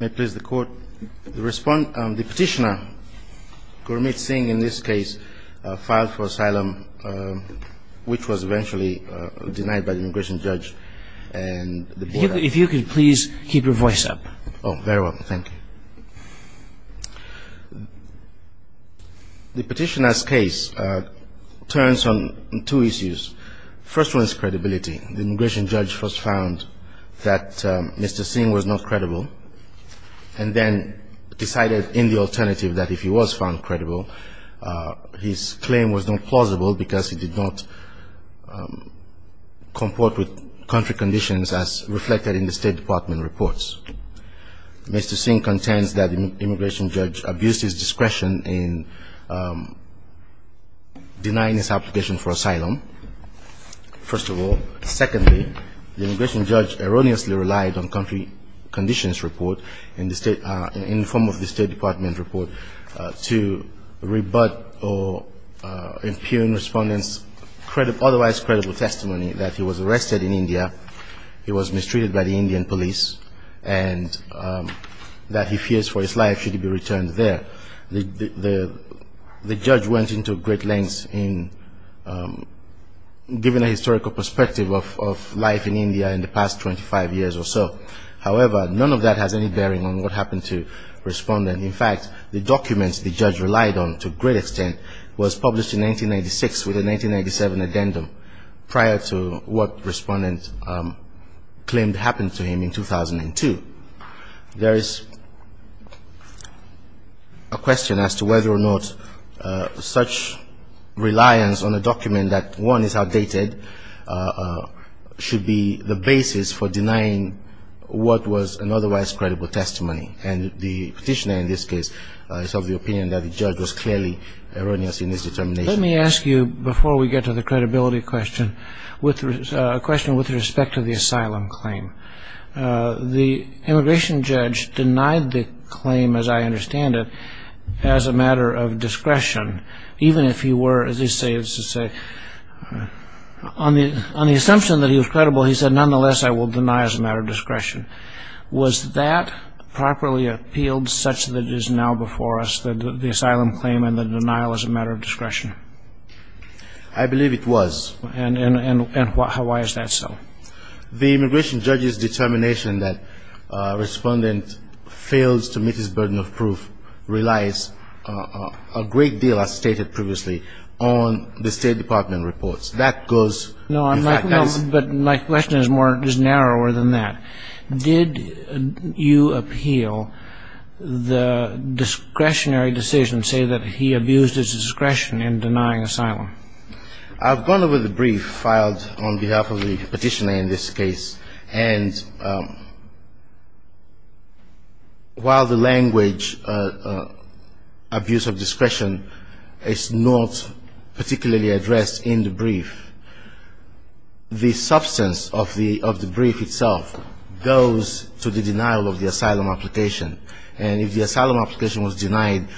May it please the court. The petitioner, Gurmeet Singh, in this case, filed for asylum, which was eventually denied by the immigration judge. If you could please keep your voice up. Oh, very well. Thank you. The petitioner's case turns on two issues. First one is credibility. The immigration judge first found that Mr. Singh was not credible and then decided in the alternative that if he was found credible, his claim was not plausible because he did not comport with country conditions as reflected in the State Department reports. Mr. Singh contends that the immigration judge abused his discretion in denying his application for asylum, first of all. Secondly, the immigration judge erroneously relied on country conditions report in the State – in the form of the State Department report to rebut or impugn respondents' otherwise credible testimony that he was arrested in India, he was mistreated by the Indian police, and that he fears for his life should he be returned there. The judge went into great lengths in giving a historical perspective of life in India in the past 25 years or so. However, none of that has any bearing on what happened to the respondent. In fact, the documents the judge relied on to a great extent was published in 1996 with a 1997 addendum prior to what respondents claimed happened to him in 2002. There is a question as to whether or not such reliance on a document that, one, is outdated, should be the basis for denying what was an otherwise credible testimony. And the petitioner in this case is of the opinion that the judge was clearly erroneous in his determination. Let me ask you, before we get to the credibility question, a question with respect to the asylum claim. The immigration judge denied the claim, as I understand it, as a matter of discretion, even if he were, as they say, on the assumption that he was credible, he said, nonetheless, I will deny as a matter of discretion. Was that properly appealed such that it is now before us that the asylum claim and the denial is a matter of discretion? I believe it was. And why is that so? The immigration judge's determination that a respondent fails to meet his burden of proof relies a great deal, as stated previously, on the State Department reports. No, but my question is narrower than that. Did you appeal the discretionary decision, say that he abused his discretion in denying asylum? I've gone over the brief filed on behalf of the petitioner in this case. And while the language, abuse of discretion, is not particularly addressed in the brief, the substance of the brief itself goes to the denial of the asylum application. And if the asylum application was denied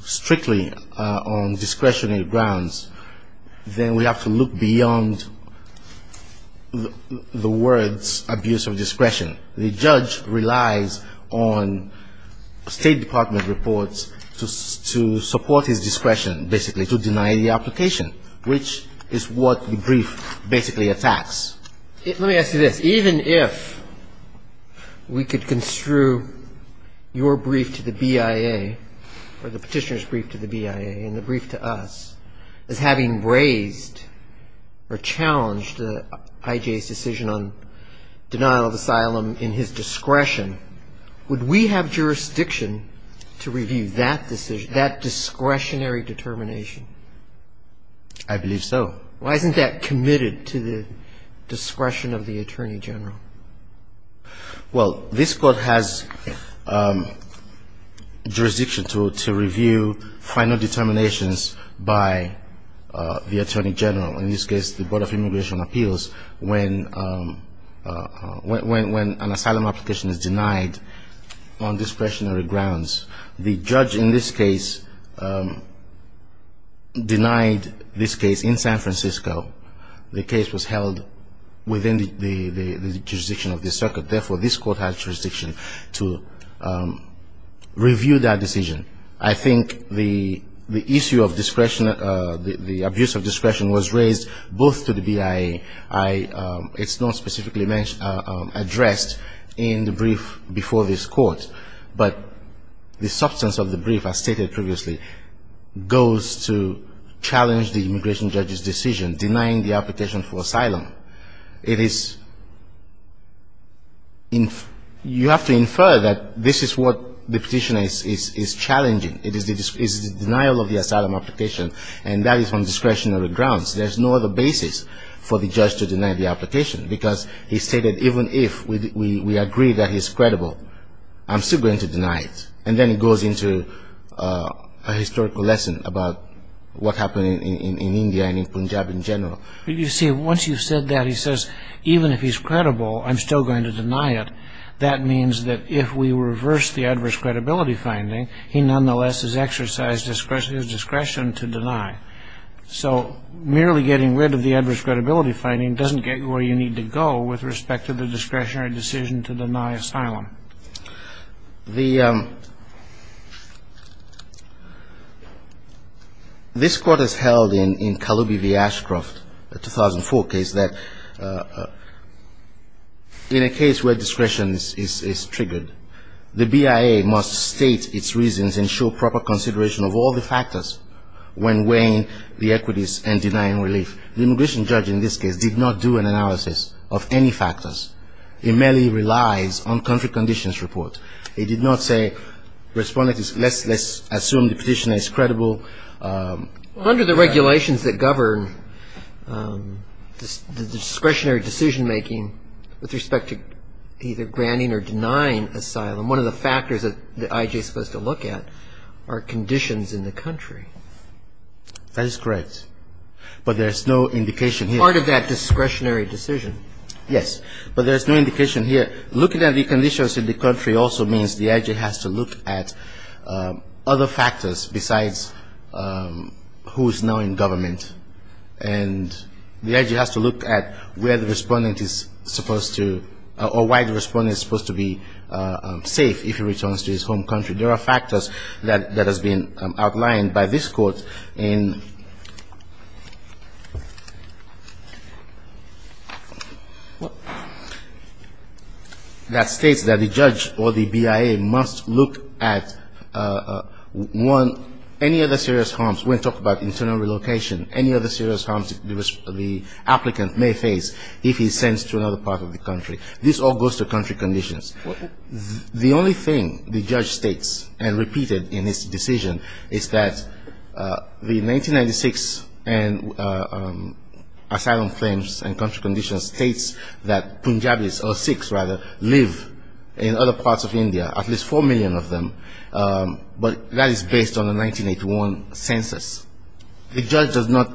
strictly on discretionary grounds, then we have to look beyond the discretionary decision. So the brief is not about the words abuse of discretion. The judge relies on State Department reports to support his discretion, basically, to deny the application, which is what the brief basically attacks. Let me ask you this. Even if we could construe your brief to the BIA or the petitioner's brief to the BIA and the brief to us as having raised or challenged I.J.'s decision on denial of asylum in his discretion, would we have jurisdiction to review that decision, that discretionary determination? I believe so. Why isn't that committed to the discretion of the Attorney General? Well, this Court has jurisdiction to review final determinations by the Attorney General, in this case the Board of Immigration Appeals, when an asylum application is denied on discretionary grounds. The judge in this case denied this case in San Francisco. The case was held within the jurisdiction of the circuit. Therefore, this Court has jurisdiction to review that decision. I think the issue of discretion, the abuse of discretion was raised both to the BIA. It's not specifically addressed in the brief before this Court. But the substance of the brief, as stated previously, goes to challenge the immigration judge's decision denying the application for asylum. You have to infer that this is what the petitioner is challenging. It is the denial of the asylum application, and that is on discretionary grounds. There's no other basis for the judge to deny the application, because he stated, even if we agree that he's credible, I'm still going to deny it. And then it goes into a historical lesson about what happened in India and in Punjab in general. You see, once you've said that, he says, even if he's credible, I'm still going to deny it. That means that if we reverse the adverse credibility finding, he nonetheless has exercised his discretion to deny. So merely getting rid of the adverse credibility finding doesn't get you where you need to go with respect to the discretionary decision to deny asylum. The — this Court has held in Kaloubi v. Ashcroft, the 2004 case, that in a case where discretion is triggered, the BIA must state its reasons and show proper consideration of all the factors when weighing whether or not to deny the asylum application. And in this case, the judge, who is a law firm, did not do an analysis of any of the factors. He merely relies on country conditions report. He did not say, respondent, let's assume the petitioner is credible. Under the regulations that govern the discretionary decision-making with respect to either granting or denying asylum, one of the factors that the IJ is supposed to look at are conditions in the country. That is correct, but there's no indication here. Part of that discretionary decision. Yes, but there's no indication here. Looking at the conditions in the country also means the IJ has to look at other factors besides who is now in government. And the IJ has to look at where the respondent is supposed to — or why the respondent is supposed to be safe if he returns to his home country. There are factors that have been outlined by this Court in — that states that the judge or the BIA must look at one — any other serious harms. When we talk about internal relocation, any other serious harms the applicant may face if he sends to another part of the country. This all goes to country conditions. The only thing the judge states, and repeated in his decision, is that the 1996 asylum claims and country conditions states that Punjabis — or Sikhs, rather — live in other parts of India, at least 4 million of them. But that is based on the 1981 census. The judge does not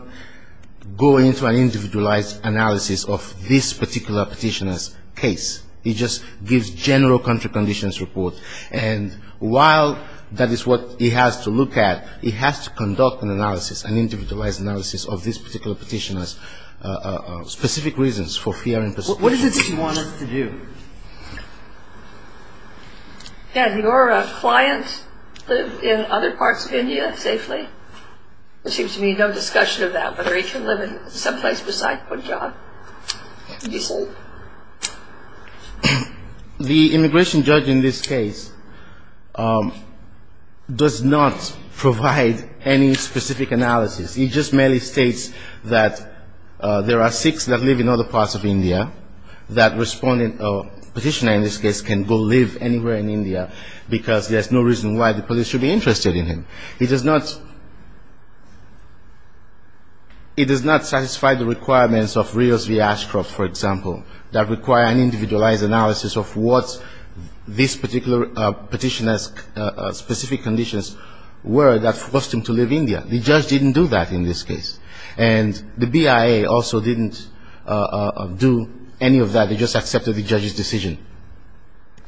go into an individualized analysis of this particular petitioner's case. He just gives general country conditions report. And while that is what he has to look at, he has to conduct an analysis, an individualized analysis of this particular petitioner's specific reasons for fear and persecution. What is it that you want us to do? Can your client live in other parts of India safely? There seems to be no discussion of that, whether he can live in some place besides Punjab and be safe. The immigration judge in this case does not provide any specific analysis. He just merely states that there are Sikhs that live in other parts of India that respond in a way that is safe. And that the petitioner in this case can go live anywhere in India, because there's no reason why the police should be interested in him. He does not satisfy the requirements of Rios v. Ashcroft, for example, that require an individualized analysis of what this particular petitioner's specific conditions were that forced him to live in India. The judge didn't do that in this case. And the BIA also didn't do any of that. They just accepted the judge's decision.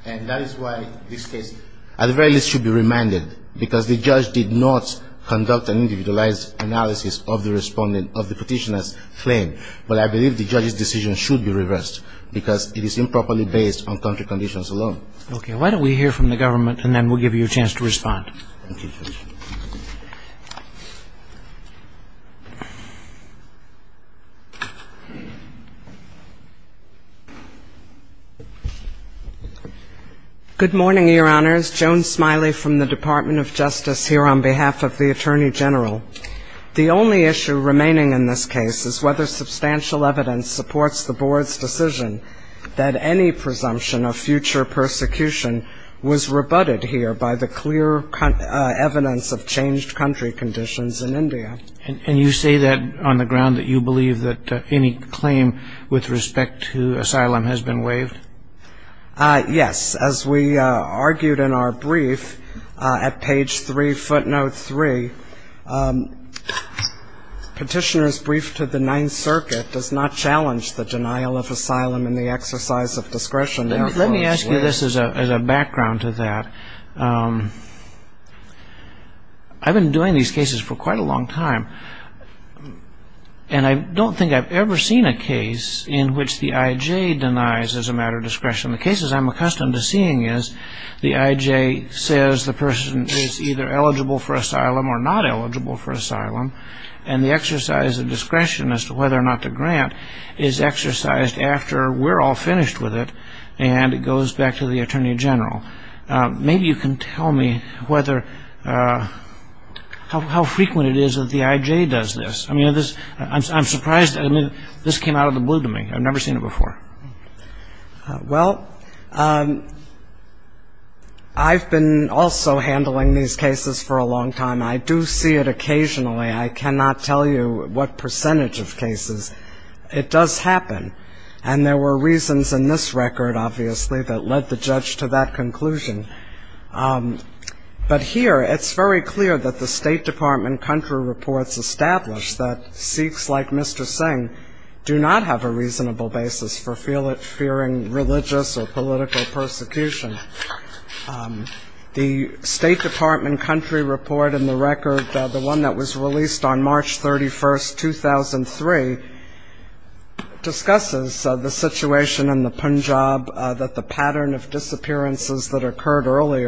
And that is why this case at the very least should be remanded, because the judge did not conduct an individualized analysis of the petitioner's claim. But I believe the judge's decision should be reversed, because it is improperly based on country conditions alone. Okay. Why don't we hear from the government, and then we'll give you a chance to respond. Good morning, Your Honors. Joan Smiley from the Department of Justice here on behalf of the Attorney General. The only issue remaining in this case is whether substantial evidence supports the Board's decision that any presumption of future persecution was rebutted here by the clear evidence of changed country conditions in India. And you say that on the ground that you believe that any claim with respect to asylum has been waived? Yes. The petitioner's brief to the Ninth Circuit does not challenge the denial of asylum and the exercise of discretion. Let me ask you this as a background to that. I've been doing these cases for quite a long time, and I don't think I've ever seen a case in which the I.J. denies, as a matter of discretion. The cases I'm accustomed to seeing is the I.J. says the person is either eligible for asylum or not eligible for asylum. And the exercise of discretion as to whether or not to grant is exercised after we're all finished with it, and it goes back to the Attorney General. Maybe you can tell me how frequent it is that the I.J. does this. I'm surprised this came out of the blue to me. I've never seen it before. Well, I've been also handling these cases for a long time. I do see it occasionally. I cannot tell you what percentage of cases. It does happen. And there were reasons in this record, obviously, that led the judge to that conclusion. But here, it's very clear that the State Department country reports establish that Sikhs like Mr. Singh do not have a reasonable basis for fearing religious or political persecution. The State Department country report in the record, the one that was released on March 31, 2003, discusses the situation in the Punjab, that the pattern of disappearances that occur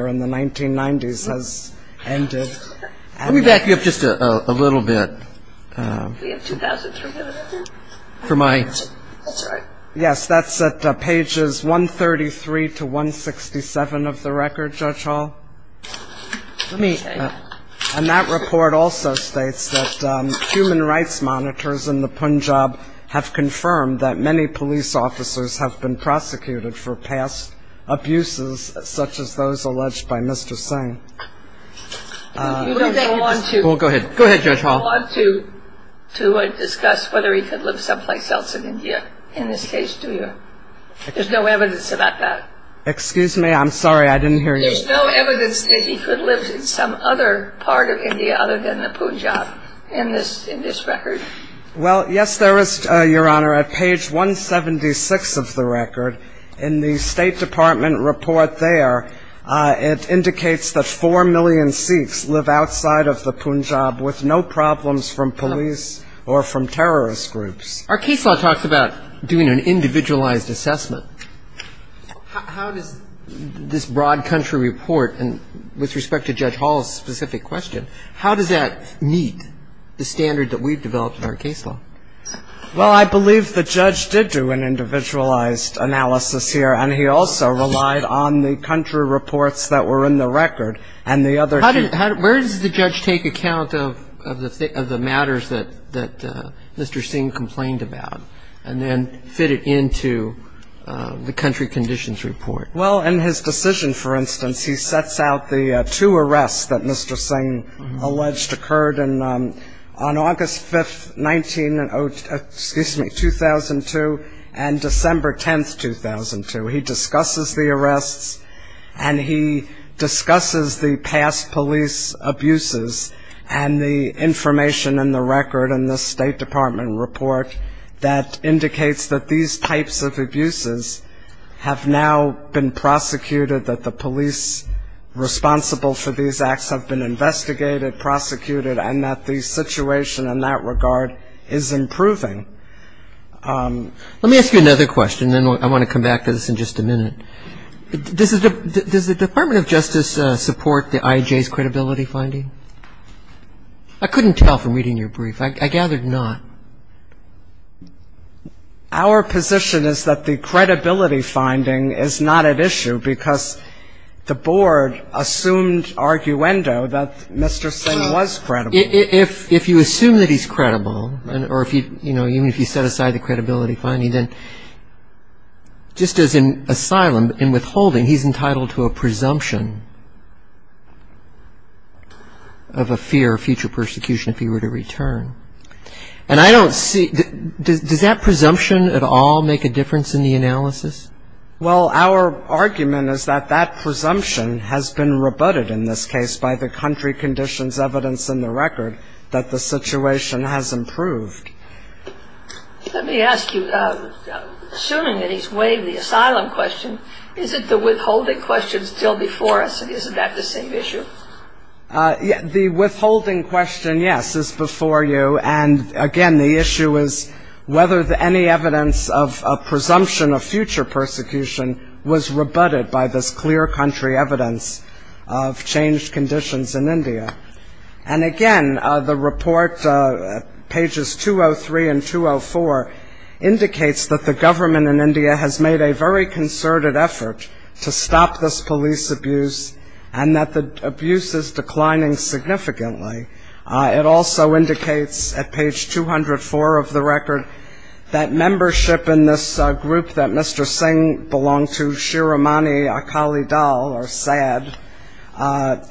in the Punjab is very clear. And that's where the word earlier in the 1990s has ended. Let me back you up just a little bit. We have 2,000 for my. Yes, that's at pages 133 to 167 of the record, Judge Hall. And that report also states that human rights monitors in the Punjab have confirmed that many police officers have been prosecuted for past abuses, such as the murder of a Sikh. And that's where the word earlier in the 1990s has ended. And that report also states that human rights monitors in the Punjab have confirmed that many police officers have been prosecuted for past abuses, such as the murder of a Sikh. You don't go on to discuss whether he could live someplace else in India in this case, do you? There's no evidence about that. Excuse me, I'm sorry, I didn't hear you. There's no evidence that he could live in some other part of India other than the Punjab in this record? Well, yes, there is, Your Honor, at page 176 of the record. In the State Department report there, it indicates that 4 million Sikhs live outside of the Punjab with no problems from police or from terrorist groups. Our case law talks about doing an individualized assessment. How does this broad country report, and with respect to Judge Hall's specific question, how does that meet the standard that we've developed in our case law? Well, I believe the judge did do an individualized analysis here, and he also relied on the country reports that were in the record and the other two. Where does the judge take account of the matters that Mr. Singh complained about and then fit it into the country conditions report? Well, in his decision, for instance, he sets out the two arrests that Mr. Singh alleged occurred on August 5th, 2002, and December 10th, 2002. He discusses the arrests, and he discusses the past police abuses and the information in the record in the State Department report that indicates that these types of abuses have now been prosecuted, that the police responsible for these acts have been investigated, prosecuted, and that the situation in that regard is improving. Let me ask you another question, and then I want to come back to this in just a minute. Does the Department of Justice support the IJ's credibility finding? I couldn't tell from reading your brief. I gathered not. Our position is that the credibility finding is not at issue because the board assumed arguendo that Mr. Singh was credible. If you assume that he's credible, or even if you set aside the credibility finding, just as in asylum, in withholding, he's entitled to a presumption of a fear of future persecution if he were to return. Does that presumption at all make a difference in the analysis? Well, our argument is that that presumption has been rebutted in this case by the country conditions evidence in the record that the situation has improved. Let me ask you, assuming that he's waived the asylum question, is it the withholding question still before us, and isn't that the same issue? The withholding question, yes, is before you. And, again, the issue is whether any evidence of a presumption of future persecution was rebutted by this clear country evidence of changed conditions in India. And, again, the report, pages 203 and 204, indicates that the government in India has made a very concerted effort to stop this police abuse and that the abuse is declining significantly. It also indicates, at page 204 of the record, that membership in this group that Mr. Singh belonged to, Shiromani Akali Dal, or SAD,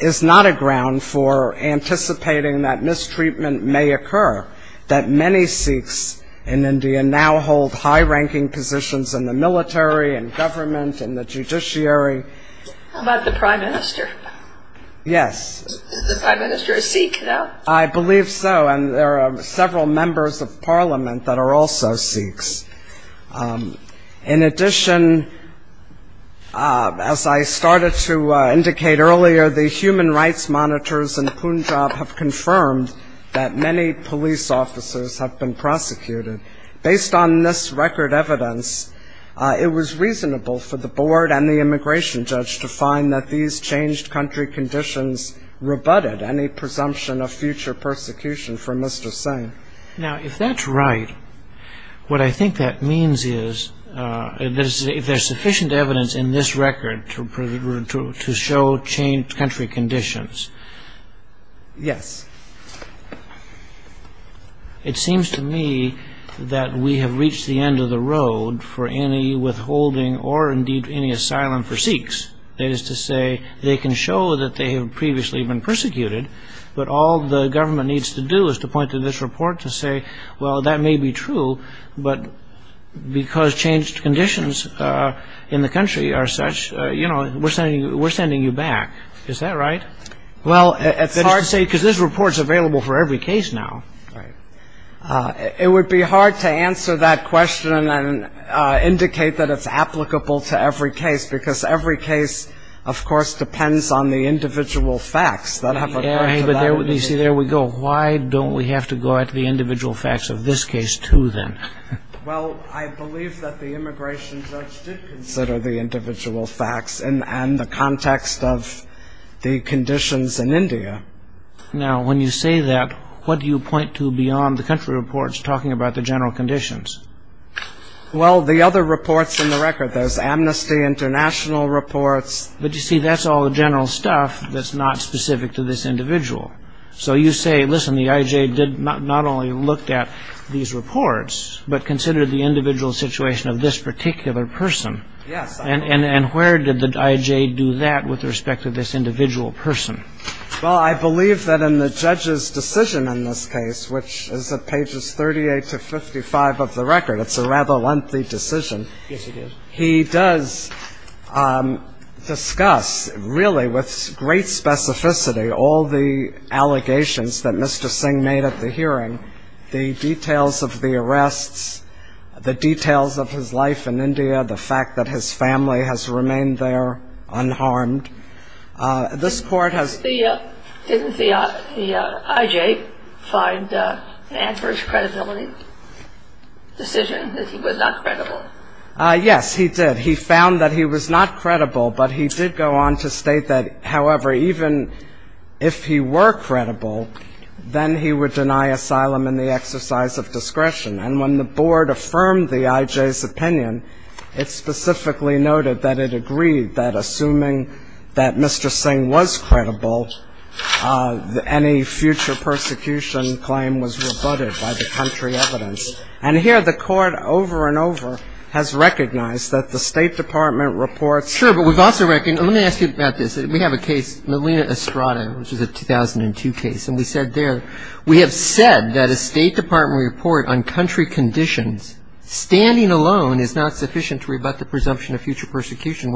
is not a ground for anticipating that mistreatment may occur, that many Sikhs in India now hold high-ranking positions in the military, in government, in the judiciary. How about the prime minister? Yes. Is the prime minister a Sikh now? I believe so, and there are several members of parliament that are also Sikhs. In addition, as I started to indicate earlier, the human rights monitors in Punjab have confirmed that many police officers have been prosecuted. Based on this record evidence, it was reasonable for the board and the immigration judge to find that these changed country conditions rebutted any presumption of future persecution from Mr. Singh. Now, if that's right, what I think that means is if there's sufficient evidence in this record to show changed country conditions. Yes. It seems to me that we have reached the end of the road for any withholding or indeed any asylum for Sikhs. That is to say, they can show that they have previously been persecuted, but all the government needs to do is to point to this report to say, well, that may be true, but because changed conditions in the country are such, we're sending you back. Is that right? Well, it's hard to say, because this report is available for every case now. It would be hard to answer that question and indicate that it's applicable to every case, because every case, of course, depends on the individual facts. You see, there we go. Why don't we have to go at the individual facts of this case, too, then? Well, I believe that the immigration judge did consider the individual facts and the context of the conditions in India. Now, when you say that, what do you point to beyond the country reports talking about the general conditions? Well, the other reports in the record. There's amnesty, international reports. But, you see, that's all the general stuff that's not specific to this individual. So you say, listen, the IJ did not only look at these reports, but considered the individual situation of this particular person. And where did the IJ do that with respect to this individual person? Well, I believe that in the judge's decision in this case, which is at pages 38 to 55 of the record, it's a rather lengthy decision. Yes, it is. He does discuss, really, with great specificity, all the allegations that Mr. Singh made at the hearing, the details of the arrests, the details of his life in India, the fact that his family has remained there unharmed. This court has... Didn't the IJ find the adverse credibility decision that he was not credible? Yes, he did. He found that he was not credible, but he did go on to state that, however, even if he were credible, then he would deny asylum in the exercise of discretion. And when the board affirmed the IJ's opinion, it specifically noted that it agreed that assuming that Mr. Singh was credible, any future persecution claim was rebutted by the country evidence. And here the court, over and over, has recognized that the State Department reports... Melina Estrada, which is a 2002 case, and we said there, we have said that a State Department report on country conditions, standing alone, is not sufficient to rebut the presumption of future persecution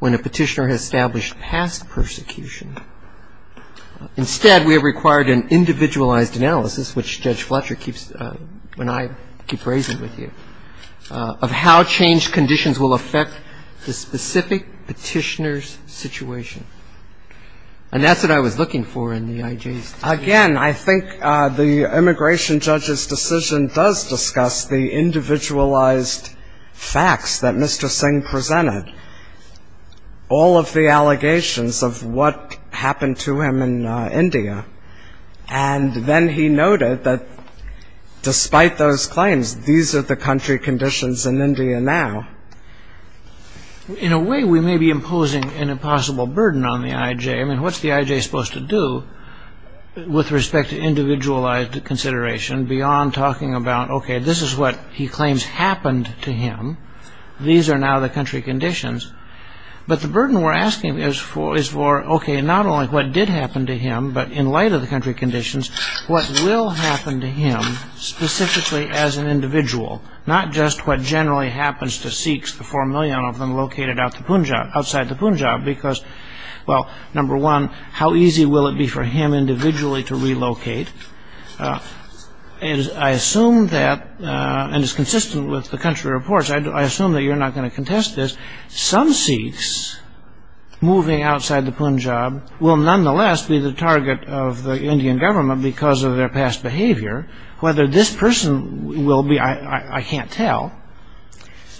when a petitioner has established past persecution. Instead, we have required an individualized analysis, which Judge Fletcher keeps... And that's what I was looking for in the IJ's... Again, I think the immigration judge's decision does discuss the individualized facts that Mr. Singh presented, all of the allegations of what happened to him in India. And then he noted that despite those claims, these are the country conditions in India now. In a way, we may be imposing an impossible burden on the IJ. I mean, what's the IJ supposed to do with respect to individualized consideration beyond talking about, okay, this is what he claims happened to him. These are now the country conditions. But the burden we're asking is for, okay, not only what did happen to him, but in light of the country conditions, what will happen to him specifically as an individual, not just what generally happens to Sikhs, the 4 million of them located outside the Punjab. Because, well, number one, how easy will it be for him individually to relocate? And I assume that, and it's consistent with the country reports, I assume that you're not going to contest this. Some Sikhs moving outside the Punjab will nonetheless be the target of the Indian government because of their past behavior. Whether this person will be, I can't tell.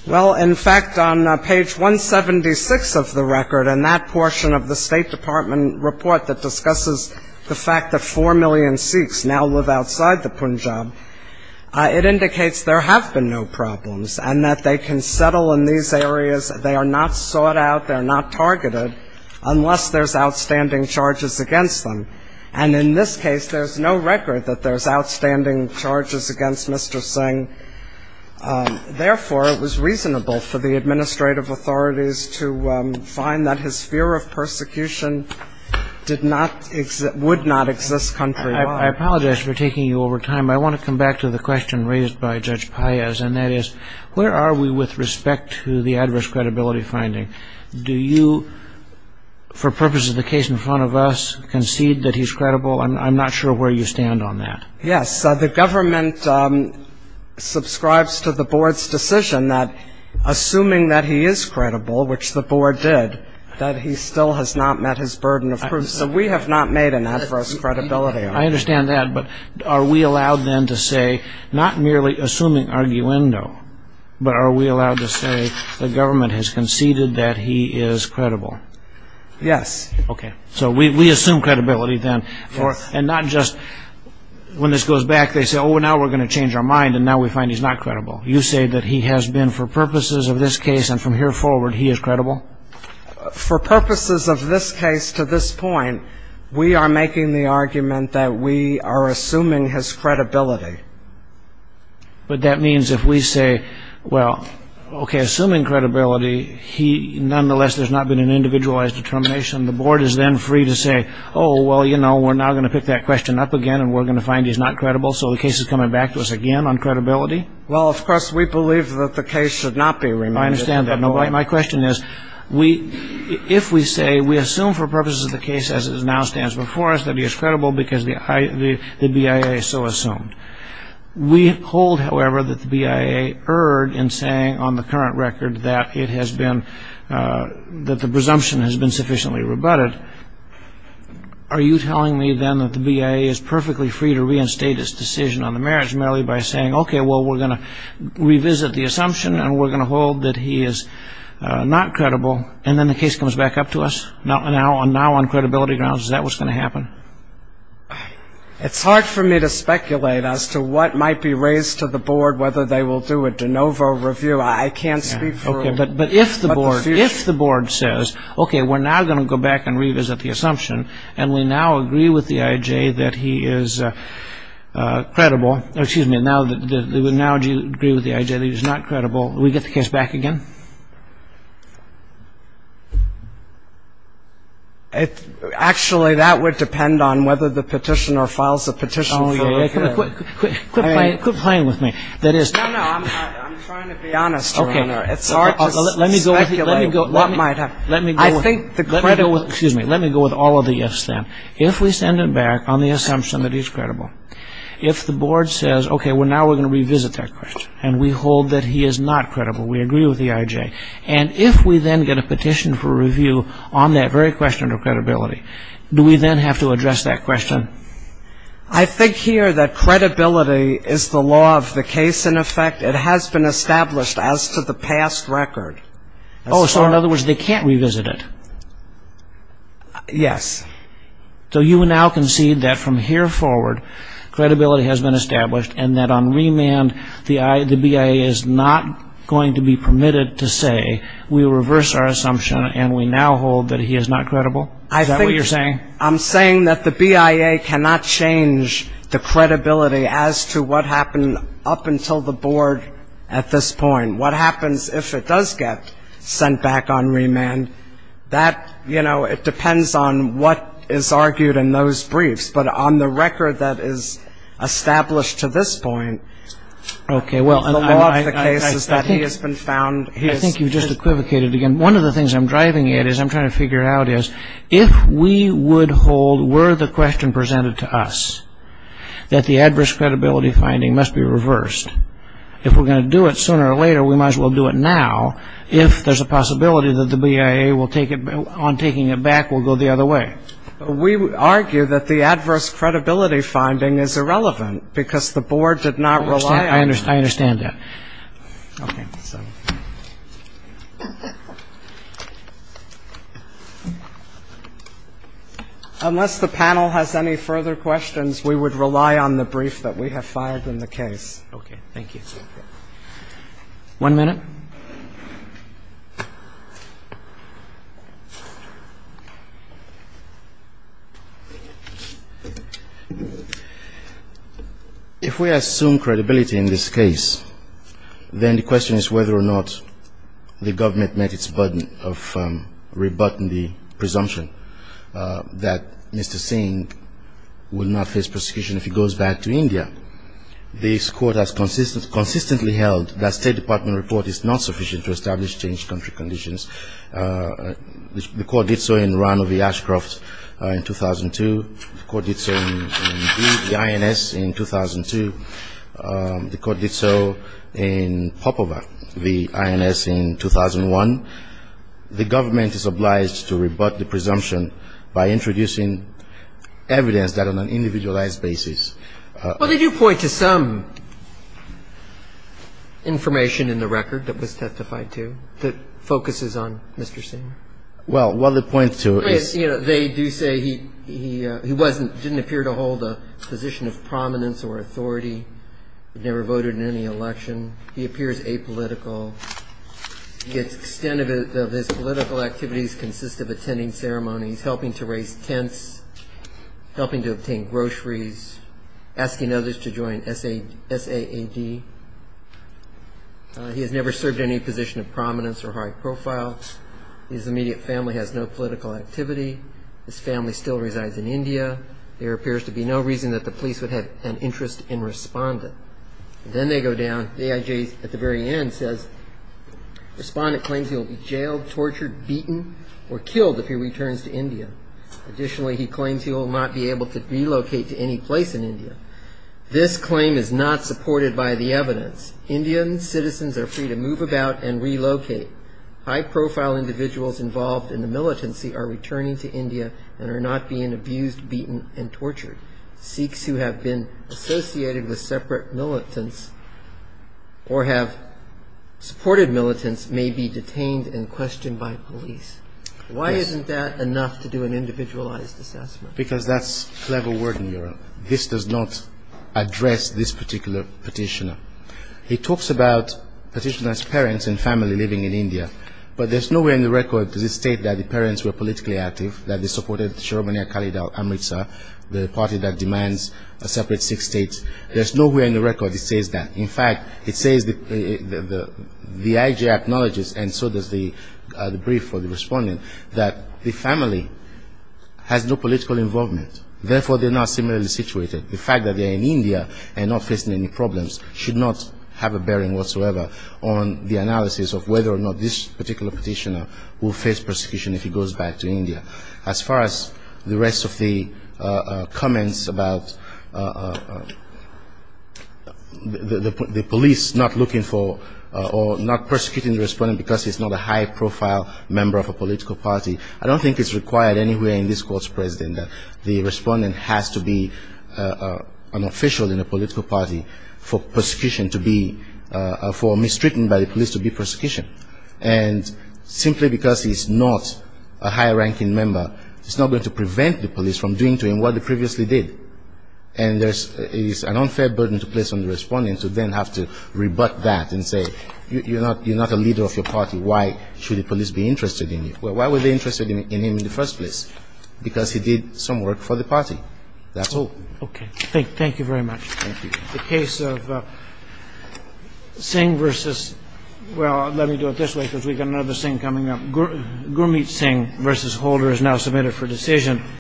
Well, in fact, on page 176 of the record, in that portion of the State Department report that discusses the fact that 4 million Sikhs now live outside the Punjab, it indicates there have been no problems and that they can settle in these areas. They are not sought out. They're not targeted unless there's outstanding charges against them. And in this case, there's no record that there's outstanding charges against Mr. Singh. Therefore, it was reasonable for the administrative authorities to find that his fear of persecution would not exist countrywide. I apologize for taking you over time. I want to come back to the question raised by Judge Paez, and that is, where are we with respect to the adverse credibility finding? Do you, for purposes of the case in front of us, concede that he's credible? I'm not sure where you stand on that. Yes, the government subscribes to the board's decision that, assuming that he is credible, which the board did, that he still has not met his burden of proof. So we have not made an adverse credibility argument. I understand that. But are we allowed then to say, not merely assuming arguendo, but are we allowed to say the government has conceded that he is credible? Yes. Okay. So we assume credibility then. And not just when this goes back, they say, oh, now we're going to change our mind, and now we find he's not credible. You say that he has been, for purposes of this case and from here forward, he is credible? For purposes of this case to this point, we are making the argument that we are assuming his credibility. But that means if we say, well, okay, assuming credibility, he, nonetheless, there's not been an individualized determination, the board is then free to say, oh, well, you know, we're now going to pick that question up again, and we're going to find he's not credible. So the case is coming back to us again on credibility. Well, of course, we believe that the case should not be remanded. I understand that. My question is, if we say we assume for purposes of the case as it now stands before us that he is credible because the BIA so assumed, we hold, however, that the BIA erred in saying on the current record that it has been, that the presumption has been sufficiently rebutted. Are you telling me, then, that the BIA is perfectly free to reinstate its decision on the marriage merely by saying, okay, well, we're going to revisit the assumption, and we're going to hold that he is not credible, and then the case comes back up to us now on credibility grounds? Is that what's going to happen? It's hard for me to speculate as to what might be raised to the board, whether they will do a de novo review. I can't speak for them. If the board says, okay, we're now going to go back and revisit the assumption, and we now agree with the I.J. that he is credible. Excuse me. Now do you agree with the I.J. that he is not credible? Do we get the case back again? Actually, that would depend on whether the petitioner files a petition. Oh, yeah. Quit playing with me. No, no, I'm trying to be honest, Your Honor. It's hard to speculate what might happen. Let me go with all of the ifs then. If we send it back on the assumption that he's credible, if the board says, okay, now we're going to revisit that question, and we hold that he is not credible, we agree with the I.J., and if we then get a petition for review on that very question of credibility, do we then have to address that question? I think here that credibility is the law of the case, in effect. It has been established as to the past record. Oh, so in other words, they can't revisit it? Yes. So you now concede that from here forward credibility has been established and that on remand the BIA is not going to be permitted to say we reverse our assumption and we now hold that he is not credible? Is that what you're saying? I'm saying that the BIA cannot change the credibility as to what happened up until the board at this point. What happens if it does get sent back on remand, that, you know, it depends on what is argued in those briefs. But on the record that is established to this point, the law of the case is that he has been found. I think you've just equivocated again. One of the things I'm driving at is I'm trying to figure out is if we would hold were the question presented to us that the adverse credibility finding must be reversed, if we're going to do it sooner or later, we might as well do it now if there's a possibility that the BIA on taking it back will go the other way. We argue that the adverse credibility finding is irrelevant because the board did not rely on it. I understand that. Okay. Unless the panel has any further questions, we would rely on the brief that we have filed in the case. Okay. Thank you. One minute. If we assume credibility in this case, then the question is whether or not the government met its burden of rebutting the presumption that Mr. Singh will not face prosecution if he goes back to India. This Court has consistently held that State Department report is not sufficient evidence. The Court did so in Rano v. Ashcroft in 2002. The Court did so in Lee v. INS in 2002. The Court did so in Popova v. INS in 2001. The government is obliged to rebut the presumption by introducing evidence that on an individualized basis. Well, they do point to some information in the record that was testified to that focuses on Mr. Singh. Well, what they point to is. They do say he didn't appear to hold a position of prominence or authority. He never voted in any election. He appears apolitical. The extent of his political activities consists of attending ceremonies, helping to raise tents, helping to obtain groceries, asking others to join SAAD. He has never served any position of prominence or high profile. His immediate family has no political activity. His family still resides in India. There appears to be no reason that the police would have an interest in Respondent. Then they go down. The AIJ at the very end says Respondent claims he will be jailed, tortured, beaten, or killed if he returns to India. Additionally, he claims he will not be able to relocate to any place in India. This claim is not supported by the evidence. Indian citizens are free to move about and relocate. High profile individuals involved in the militancy are returning to India and are not being abused, beaten, and tortured. Sikhs who have been associated with separate militants or have supported militants may be detained and questioned by police. Why isn't that enough to do an individualized assessment? Because that's a clever word in Europe. This does not address this particular petitioner. He talks about petitioner's parents and family living in India. But there's no way on the record does he state that the parents were politically active, that they supported Sharobaniya Kalidhar Amritsar, the party that demands a separate Sikh state. There's no way on the record he says that. In fact, it says the IG acknowledges, and so does the brief for the respondent, that the family has no political involvement. Therefore, they're not similarly situated. The fact that they're in India and not facing any problems should not have a bearing whatsoever on the analysis of whether or not this particular petitioner will face persecution if he goes back to India. As far as the rest of the comments about the police not looking for or not persecuting the respondent because he's not a high-profile member of a political party, I don't think it's required anywhere in this court's precedent that the respondent has to be an official in a political party for persecution to be, for mistreatment by the police to be persecution. And simply because he's not a high-ranking member, it's not going to prevent the police from doing to him what they previously did. And there's an unfair burden to place on the respondent to then have to rebut that and say, you're not a leader of your party. Why should the police be interested in you? Why were they interested in him in the first place? Because he did some work for the party. That's all. Okay. Thank you very much. Thank you. The case of Singh versus, well, let me do it this way because we've got another Singh coming up. Gurmeet Singh versus Holder is now submitted for decision.